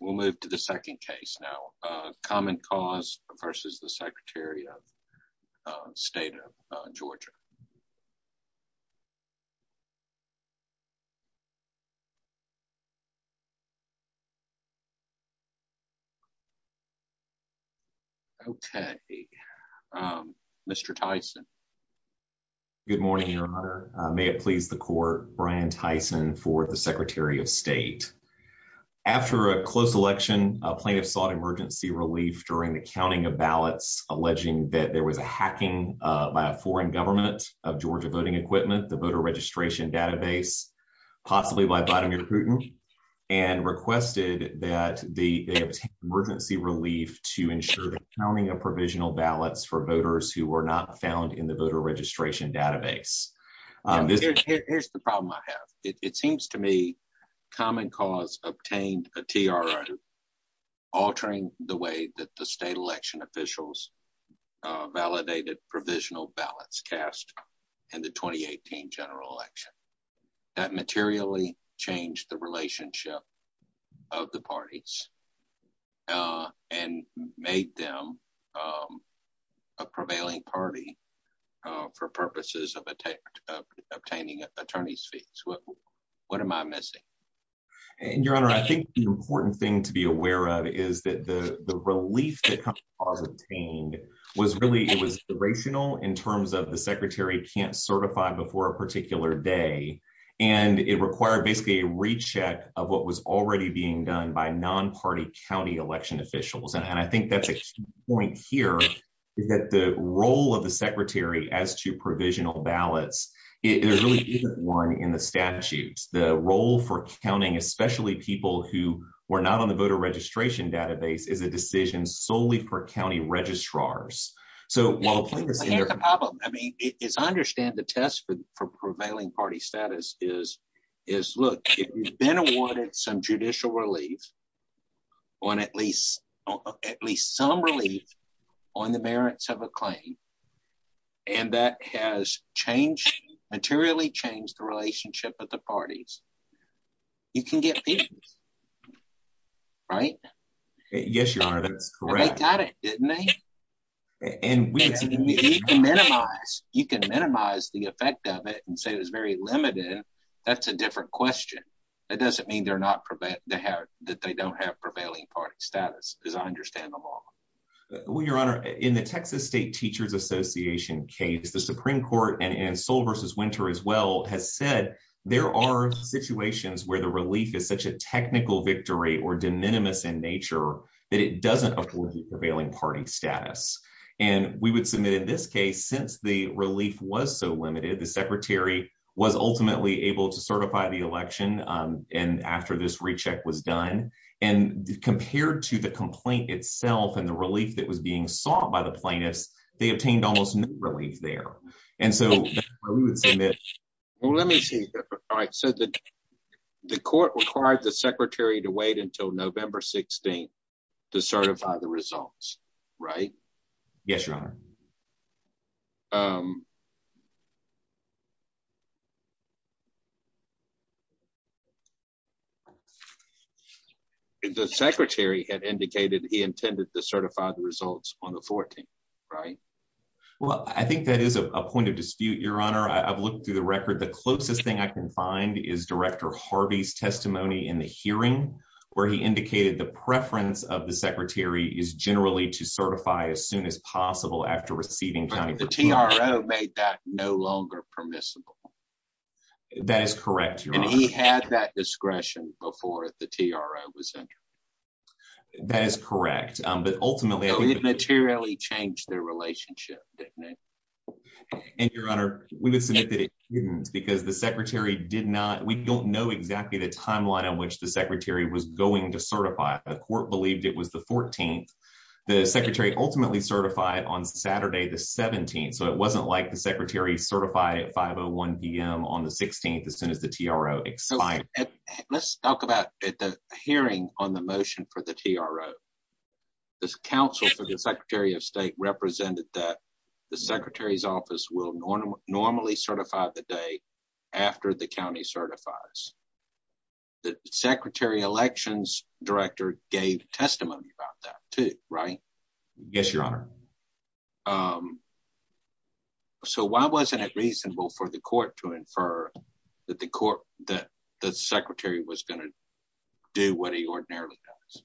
We'll move to the second case now, Common Cause v. Secretary of State of Georgia. Okay, Mr. Tyson. Good morning, Your Honor. May it please the Court, Brian Tyson for the Secretary of State. After a close election, a plaintiff sought emergency relief during the counting of ballots, alleging that there was a hacking by a foreign government of Georgia voting equipment, the Voter Registration Database, possibly by Vladimir Putin, and requested that they obtain emergency relief to ensure the counting of provisional ballots for voters who were not found in the Voter Registration Database. Here's the problem I have. It seems to me Common Cause obtained a TRO altering the way that the state election officials validated provisional ballots cast in the 2018 general election. That materially changed the relationship of the parties and made them a prevailing party for purposes of obtaining attorney's fees. What am I missing? Your Honor, I think the important thing to be aware of is that the relief that Common Cause obtained was really, it was irrational in terms of the Secretary can't certify before a particular day, and it required basically a recheck of what was already being done by non-party county election officials. And I think that's a key point here, is that the role of the Secretary as to provisional ballots, it really isn't one in the statutes. The role for counting, especially people who were not on the Voter Registration Database, is a decision solely for county registrars. Here's the problem. I understand the test for prevailing party status is, look, if you've been awarded some judicial relief, at least some relief on the merits of a claim, and that has changed, materially changed the relationship of the parties, you can get fees. Right? Yes, Your Honor, that's correct. They got it, didn't they? You can minimize the effect of it and say it was very limited. That's a different question. It doesn't mean that they don't have prevailing party status, as I understand them all. Well, Your Honor, in the Texas State Teachers Association case, the Supreme Court, and in Sol v. Winter as well, has said there are situations where the relief is such a technical victory or de minimis in nature that it doesn't afford the prevailing party status. And we would submit in this case, since the relief was so limited, the secretary was ultimately able to certify the election after this recheck was done. And compared to the complaint itself and the relief that was being sought by the plaintiffs, they obtained almost no relief there. Well, let me see. All right. So the court required the secretary to wait until November 16 to certify the results, right? Yes, Your Honor. The secretary had indicated he intended to certify the results on the 14th, right? Well, I think that is a point of dispute, Your Honor. I've looked through the record. The closest thing I can find is Director Harvey's testimony in the hearing, where he indicated the preference of the secretary is generally to certify as soon as possible after receiving county approval. But the TRO made that no longer permissible. That is correct, Your Honor. And he had that discretion before the TRO was entered. That is correct. But ultimately... And, Your Honor, we would submit that it couldn't because the secretary did not... We don't know exactly the timeline in which the secretary was going to certify. The court believed it was the 14th. The secretary ultimately certified on Saturday, the 17th. So it wasn't like the secretary certified at 5.01 p.m. on the 16th as soon as the TRO expired. Let's talk about the hearing on the motion for the TRO. The counsel for the Secretary of State represented that the secretary's office will normally certify the day after the county certifies. The Secretary Elections Director gave testimony about that, too, right? Yes, Your Honor. So why wasn't it reasonable for the court to infer that the secretary was going to do what he ordinarily does?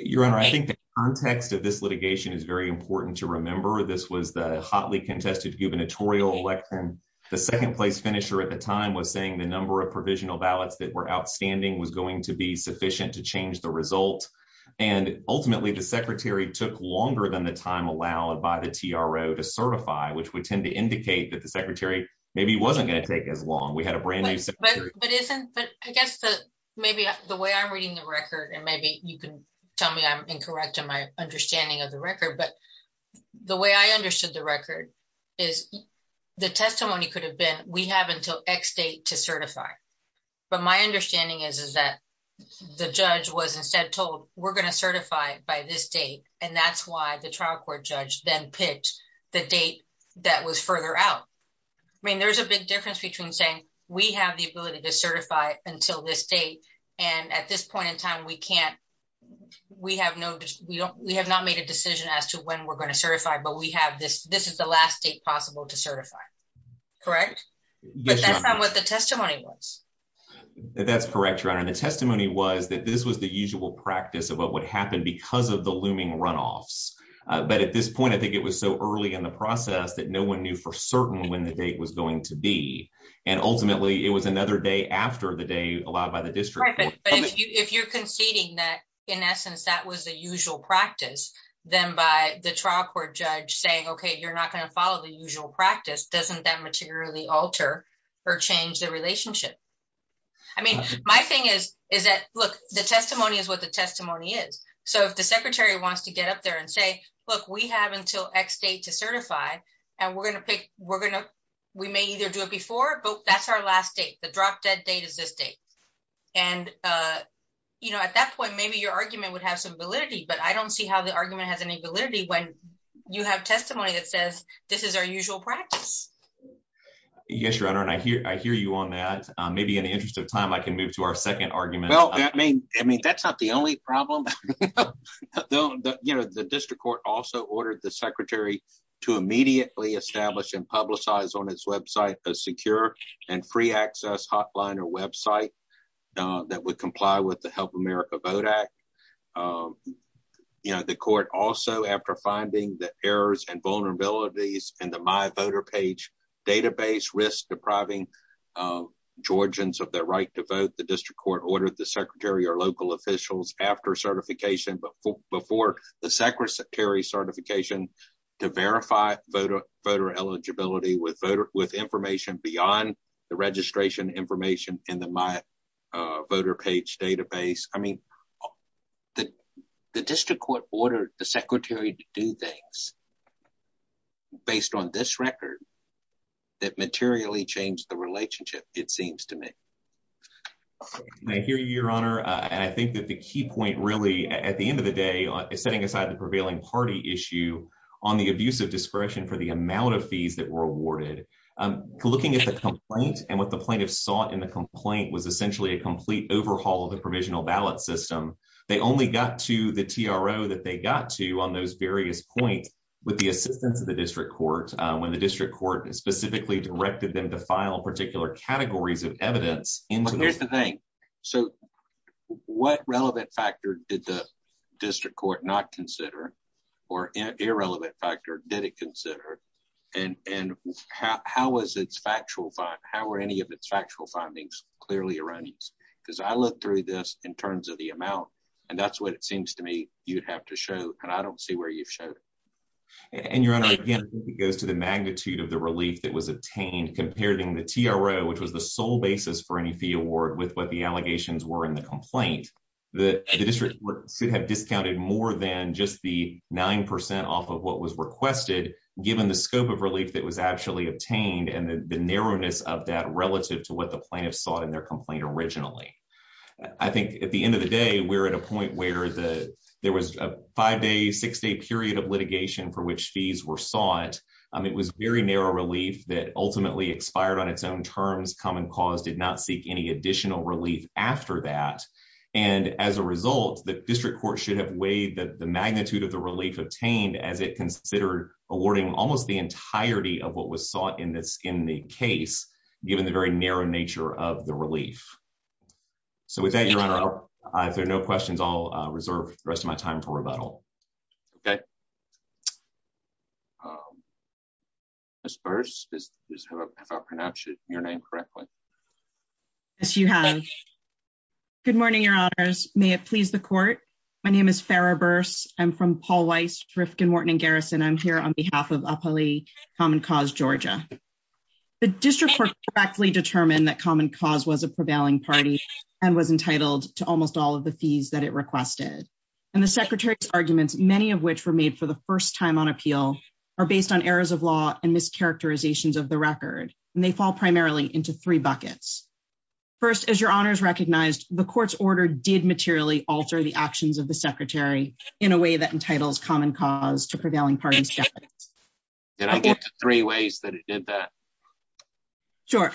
Your Honor, I think the context of this litigation is very important to remember. This was the hotly contested gubernatorial election. The second place finisher at the time was saying the number of provisional ballots that were outstanding was going to be sufficient to change the result. And ultimately, the secretary took longer than the time allowed by the TRO to certify, which would tend to indicate that the secretary maybe wasn't going to take as long. We had a brand new secretary... But isn't... But I guess that maybe the way I'm reading the record, and maybe you can tell me I'm incorrect in my understanding of the record, but the way I understood the record is the testimony could have been, we have until X date to certify. But my understanding is, is that the judge was instead told, we're going to certify by this date. And that's why the trial court judge then picked the date that was further out. I mean, there's a big difference between saying, we have the ability to certify until this date. And at this point in time, we can't, we have no, we don't, we have not made a decision as to when we're going to certify, but we have this, this is the last date possible to certify. Correct? But that's not what the testimony was. That's correct, Your Honor. And the testimony was that this was the usual practice of what would happen because of the looming runoffs. But at this point, I think it was so early in the process that no one knew for certain when the date was going to be. And ultimately, it was another day after the day allowed by the district. If you're conceding that, in essence, that was the usual practice, then by the trial court judge saying, okay, you're not going to follow the usual practice, doesn't that materially alter or change the relationship? I mean, my thing is, is that, look, the testimony is what the testimony is. So if the Secretary wants to get up there and say, look, we have until X date to certify, and we're going to pick, we're going to, we may either do it before, but that's our last date, the drop dead date is this date. And, you know, at that point, maybe your argument would have some validity, but I don't see how the argument has any validity when you have testimony that says, this is our usual practice. Yes, Your Honor, and I hear you on that. Maybe in the interest of time, I can move to our second argument. Well, I mean, I mean, that's not the only problem. You know, the district court also ordered the Secretary to immediately establish and publicize on its website a secure and free access hotline or website that would comply with the Help America Vote Act. You know, the court also, after finding the errors and vulnerabilities in the My Voter Page database risk depriving Georgians of their right to vote, the district court ordered the Secretary or local officials after certification, but before the Secretary certification, to verify voter voter eligibility with voter with information beyond the registration information in the My Voter Page database. I mean, the district court ordered the Secretary to do things based on this record that materially changed the relationship, it seems to me. I hear you, Your Honor, and I think that the key point really, at the end of the day, is setting aside the prevailing party issue on the abuse of discretion for the amount of fees that were awarded. Looking at the complaint and what the plaintiffs sought in the complaint was essentially a complete overhaul of the provisional ballot system. They only got to the TRO that they got to on those various points with the assistance of the district court when the district court specifically directed them to file particular categories of evidence. But here's the thing. So what relevant factor did the district court not consider, or irrelevant factor did it consider, and how was its factual, how were any of its factual findings clearly erroneous? Because I looked through this in terms of the amount, and that's what it seems to me you'd have to show, and I don't see where you've shown it. And, Your Honor, again, I think it goes to the magnitude of the relief that was obtained compared to the TRO, which was the sole basis for any fee award with what the allegations were in the complaint. The district court should have discounted more than just the 9% off of what was requested, given the scope of relief that was actually obtained and the narrowness of that relative to what the plaintiffs sought in their complaint originally. I think at the end of the day, we're at a point where there was a five-day, six-day period of litigation for which fees were sought. It was very narrow relief that ultimately expired on its own terms. Common Cause did not seek any additional relief after that. And, as a result, the district court should have weighed the magnitude of the relief obtained as it considered awarding almost the entirety of what was sought in the case, given the very narrow nature of the relief. So, with that, Your Honor, if there are no questions, I'll reserve the rest of my time for rebuttal. Okay. Ms. Burrs, did I pronounce your name correctly? Yes, you have. Good morning, Your Honors. May it please the Court? My name is Farrah Burrs. I'm from Paul Weiss, Driftkin, Morton & Garrison. I'm here on behalf of Appali, Common Cause, Georgia. The district court correctly determined that Common Cause was a prevailing party and was entitled to almost all of the fees that it requested. And the Secretary's arguments, many of which were made for the first time on appeal, are based on errors of law and mischaracterizations of the record, and they fall primarily into three buckets. First, as Your Honors recognized, the Court's order did materially alter the actions of the Secretary in a way that entitles Common Cause to prevailing parties' deficits. Did I get the three ways that it did that? Sure.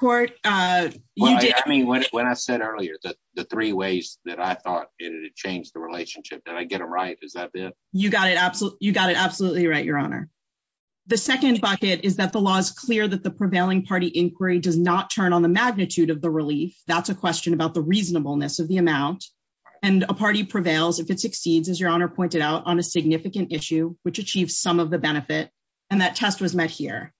Court, you did. I mean, when I said earlier the three ways that I thought it had changed the relationship, did I get them right? Is that it? You got it absolutely right, Your Honor. The second bucket is that the law is clear that the prevailing party inquiry does not turn on the magnitude of the relief. That's a question about the reasonableness of the amount. And a party prevails if it succeeds, as Your Honor pointed out, on a significant issue which achieves some of the benefit. And that test was met here.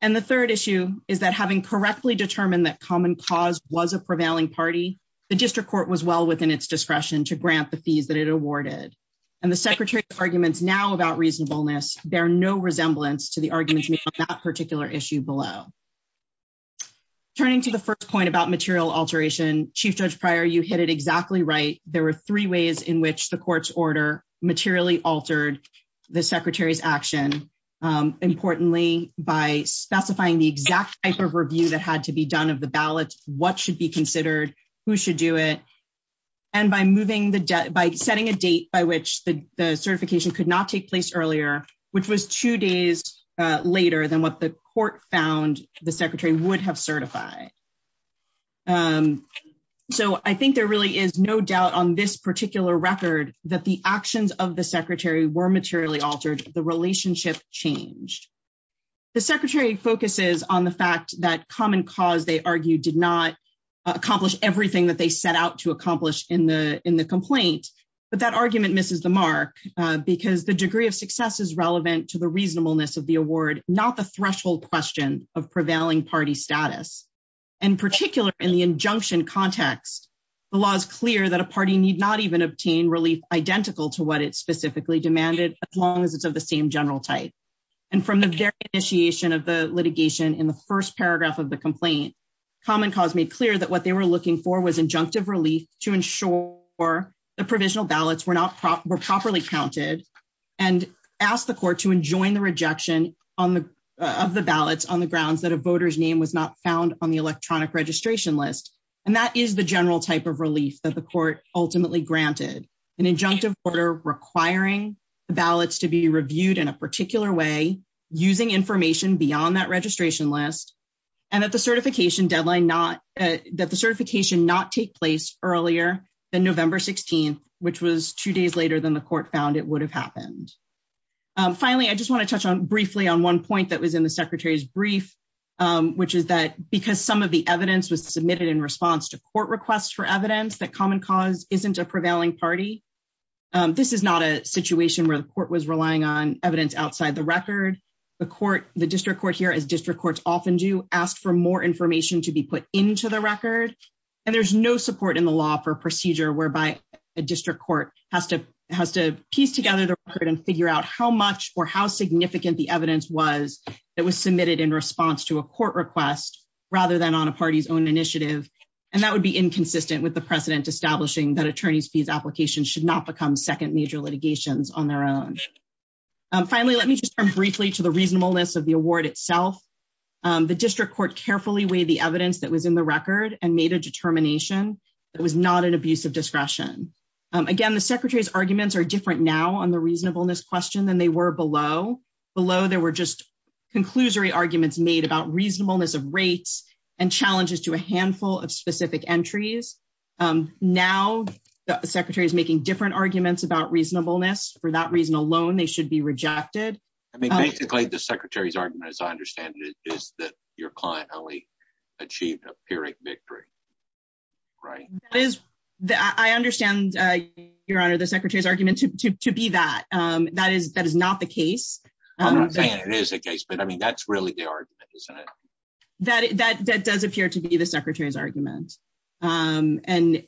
And the third issue is that having correctly determined that Common Cause was a prevailing party, the district court was well within its discretion to grant the fees that it awarded. And the Secretary's arguments now about reasonableness bear no resemblance to the arguments made on that particular issue below. Turning to the first point about material alteration, Chief Judge Pryor, you hit it exactly right. There were three ways in which the Court's order materially altered the Secretary's action. Importantly, by specifying the exact type of review that had to be done of the ballots, what should be considered, who should do it. And by setting a date by which the certification could not take place earlier, which was two days later than what the Court found the Secretary would have certified. So I think there really is no doubt on this particular record that the actions of the Secretary were materially altered. The relationship changed. The Secretary focuses on the fact that Common Cause, they argued, did not accomplish everything that they set out to accomplish in the complaint. But that argument misses the mark because the degree of success is relevant to the reasonableness of the award, not the threshold question of prevailing party status. In particular, in the injunction context, the law is clear that a party need not even obtain relief identical to what it specifically demanded as long as it's of the same general type. And from the very initiation of the litigation in the first paragraph of the complaint, Common Cause made clear that what they were looking for was injunctive relief to ensure the provisional ballots were properly counted and asked the Court to enjoin the rejection of the ballots on the grounds that a voter's name was not found on the electronic registration list. And that is the general type of relief that the Court ultimately granted. An injunctive order requiring ballots to be reviewed in a particular way, using information beyond that registration list, and that the certification not take place earlier than November 16th, which was two days later than the Court found it would have happened. Finally, I just want to touch on briefly on one point that was in the Secretary's brief, which is that because some of the evidence was submitted in response to court requests for evidence that Common Cause isn't a prevailing party, this is not a situation where the Court was relying on evidence outside the record. The District Court here, as district courts often do, asked for more information to be put into the record. And there's no support in the law for a procedure whereby a district court has to piece together the record and figure out how much or how significant the evidence was that was submitted in response to a court request, rather than on a party's own initiative. And that would be inconsistent with the precedent establishing that attorneys' fees applications should not become second major litigations on their own. Finally, let me just turn briefly to the reasonableness of the award itself. The District Court carefully weighed the evidence that was in the record and made a determination that it was not an abuse of discretion. Again, the Secretary's arguments are different now on the reasonableness question than they were below. Below, there were just conclusory arguments made about reasonableness of rates and challenges to a handful of specific entries. Now, the Secretary is making different arguments about reasonableness. For that reason alone, they should be rejected. I mean, basically, the Secretary's argument, as I understand it, is that your client only achieved a pyrrhic victory. Right? I understand, Your Honor, the Secretary's argument to be that. That is not the case. I'm not saying it is the case, but I mean, that's really the argument, isn't it? That does appear to be the Secretary's argument. And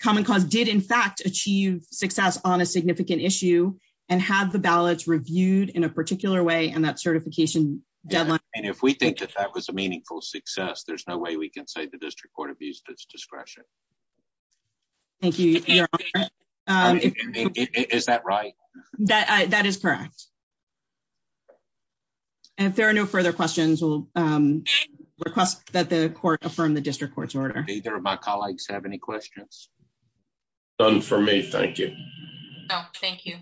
Common Cause did, in fact, achieve success on a significant issue and had the ballots reviewed in a particular way in that certification deadline. And if we think that that was a meaningful success, there's no way we can say the District Court abused its discretion. Thank you, Your Honor. Is that right? That is correct. And if there are no further questions, we'll request that the Court affirm the District Court's order. Do either of my colleagues have any questions? None for me, thank you. No, thank you.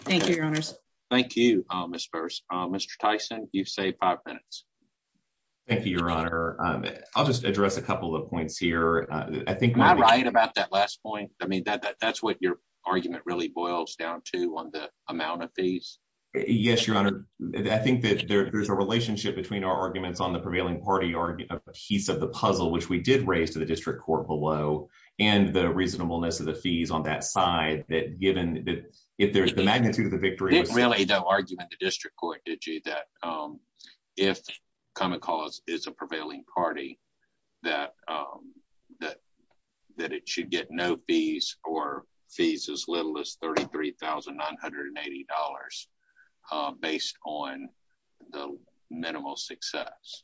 Thank you, Your Honors. Thank you, Ms. Burse. Mr. Tyson, you've saved five minutes. Thank you, Your Honor. I'll just address a couple of points here. Am I right about that last point? I mean, that's what your argument really boils down to on the amount of fees. Yes, Your Honor. I think that there's a relationship between our arguments on the prevailing party piece of the puzzle, which we did raise to the District Court below, and the reasonableness of the fees on that side. There's really no argument in the District Court, did you, that if Common Cause is a prevailing party, that it should get no fees or fees as little as $33,980 based on the minimal success?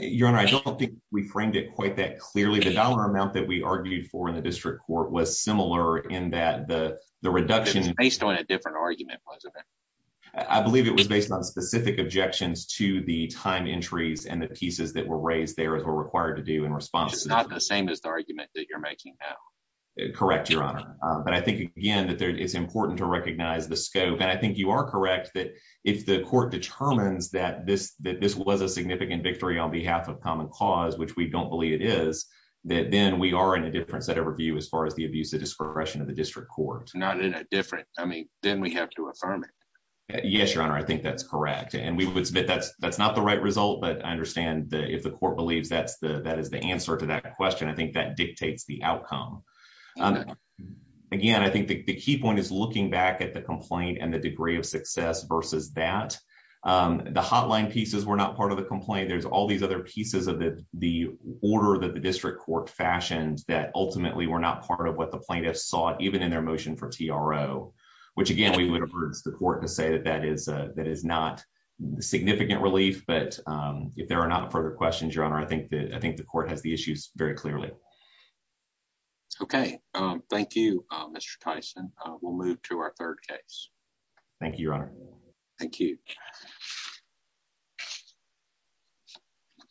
Your Honor, I don't think we framed it quite that clearly. The dollar amount that we argued for in the District Court was similar in that the reduction… It was based on a different argument, wasn't it? I believe it was based on specific objections to the time entries and the pieces that were raised there as were required to do in response. Which is not the same as the argument that you're making now. Correct, Your Honor. But I think, again, that it's important to recognize the scope. And I think you are correct that if the court determines that this was a significant victory on behalf of Common Cause, which we don't believe it is, that then we are in a difference at a review as far as the abuse of discretion of the District Court. Not in a difference. I mean, then we have to affirm it. Yes, Your Honor. I think that's correct. And we would submit that's not the right result, but I understand that if the court believes that is the answer to that question, I think that dictates the outcome. Again, I think the key point is looking back at the complaint and the degree of success versus that. The hotline pieces were not part of the complaint. There's all these other pieces of the order that the District Court fashioned that ultimately were not part of what the plaintiffs sought, even in their motion for TRO. Which, again, we would urge the court to say that that is not significant relief. But if there are not further questions, Your Honor, I think the court has the issues very clearly. Okay. Thank you, Mr. Tyson. We'll move to our third case. Thank you, Your Honor. Thank you.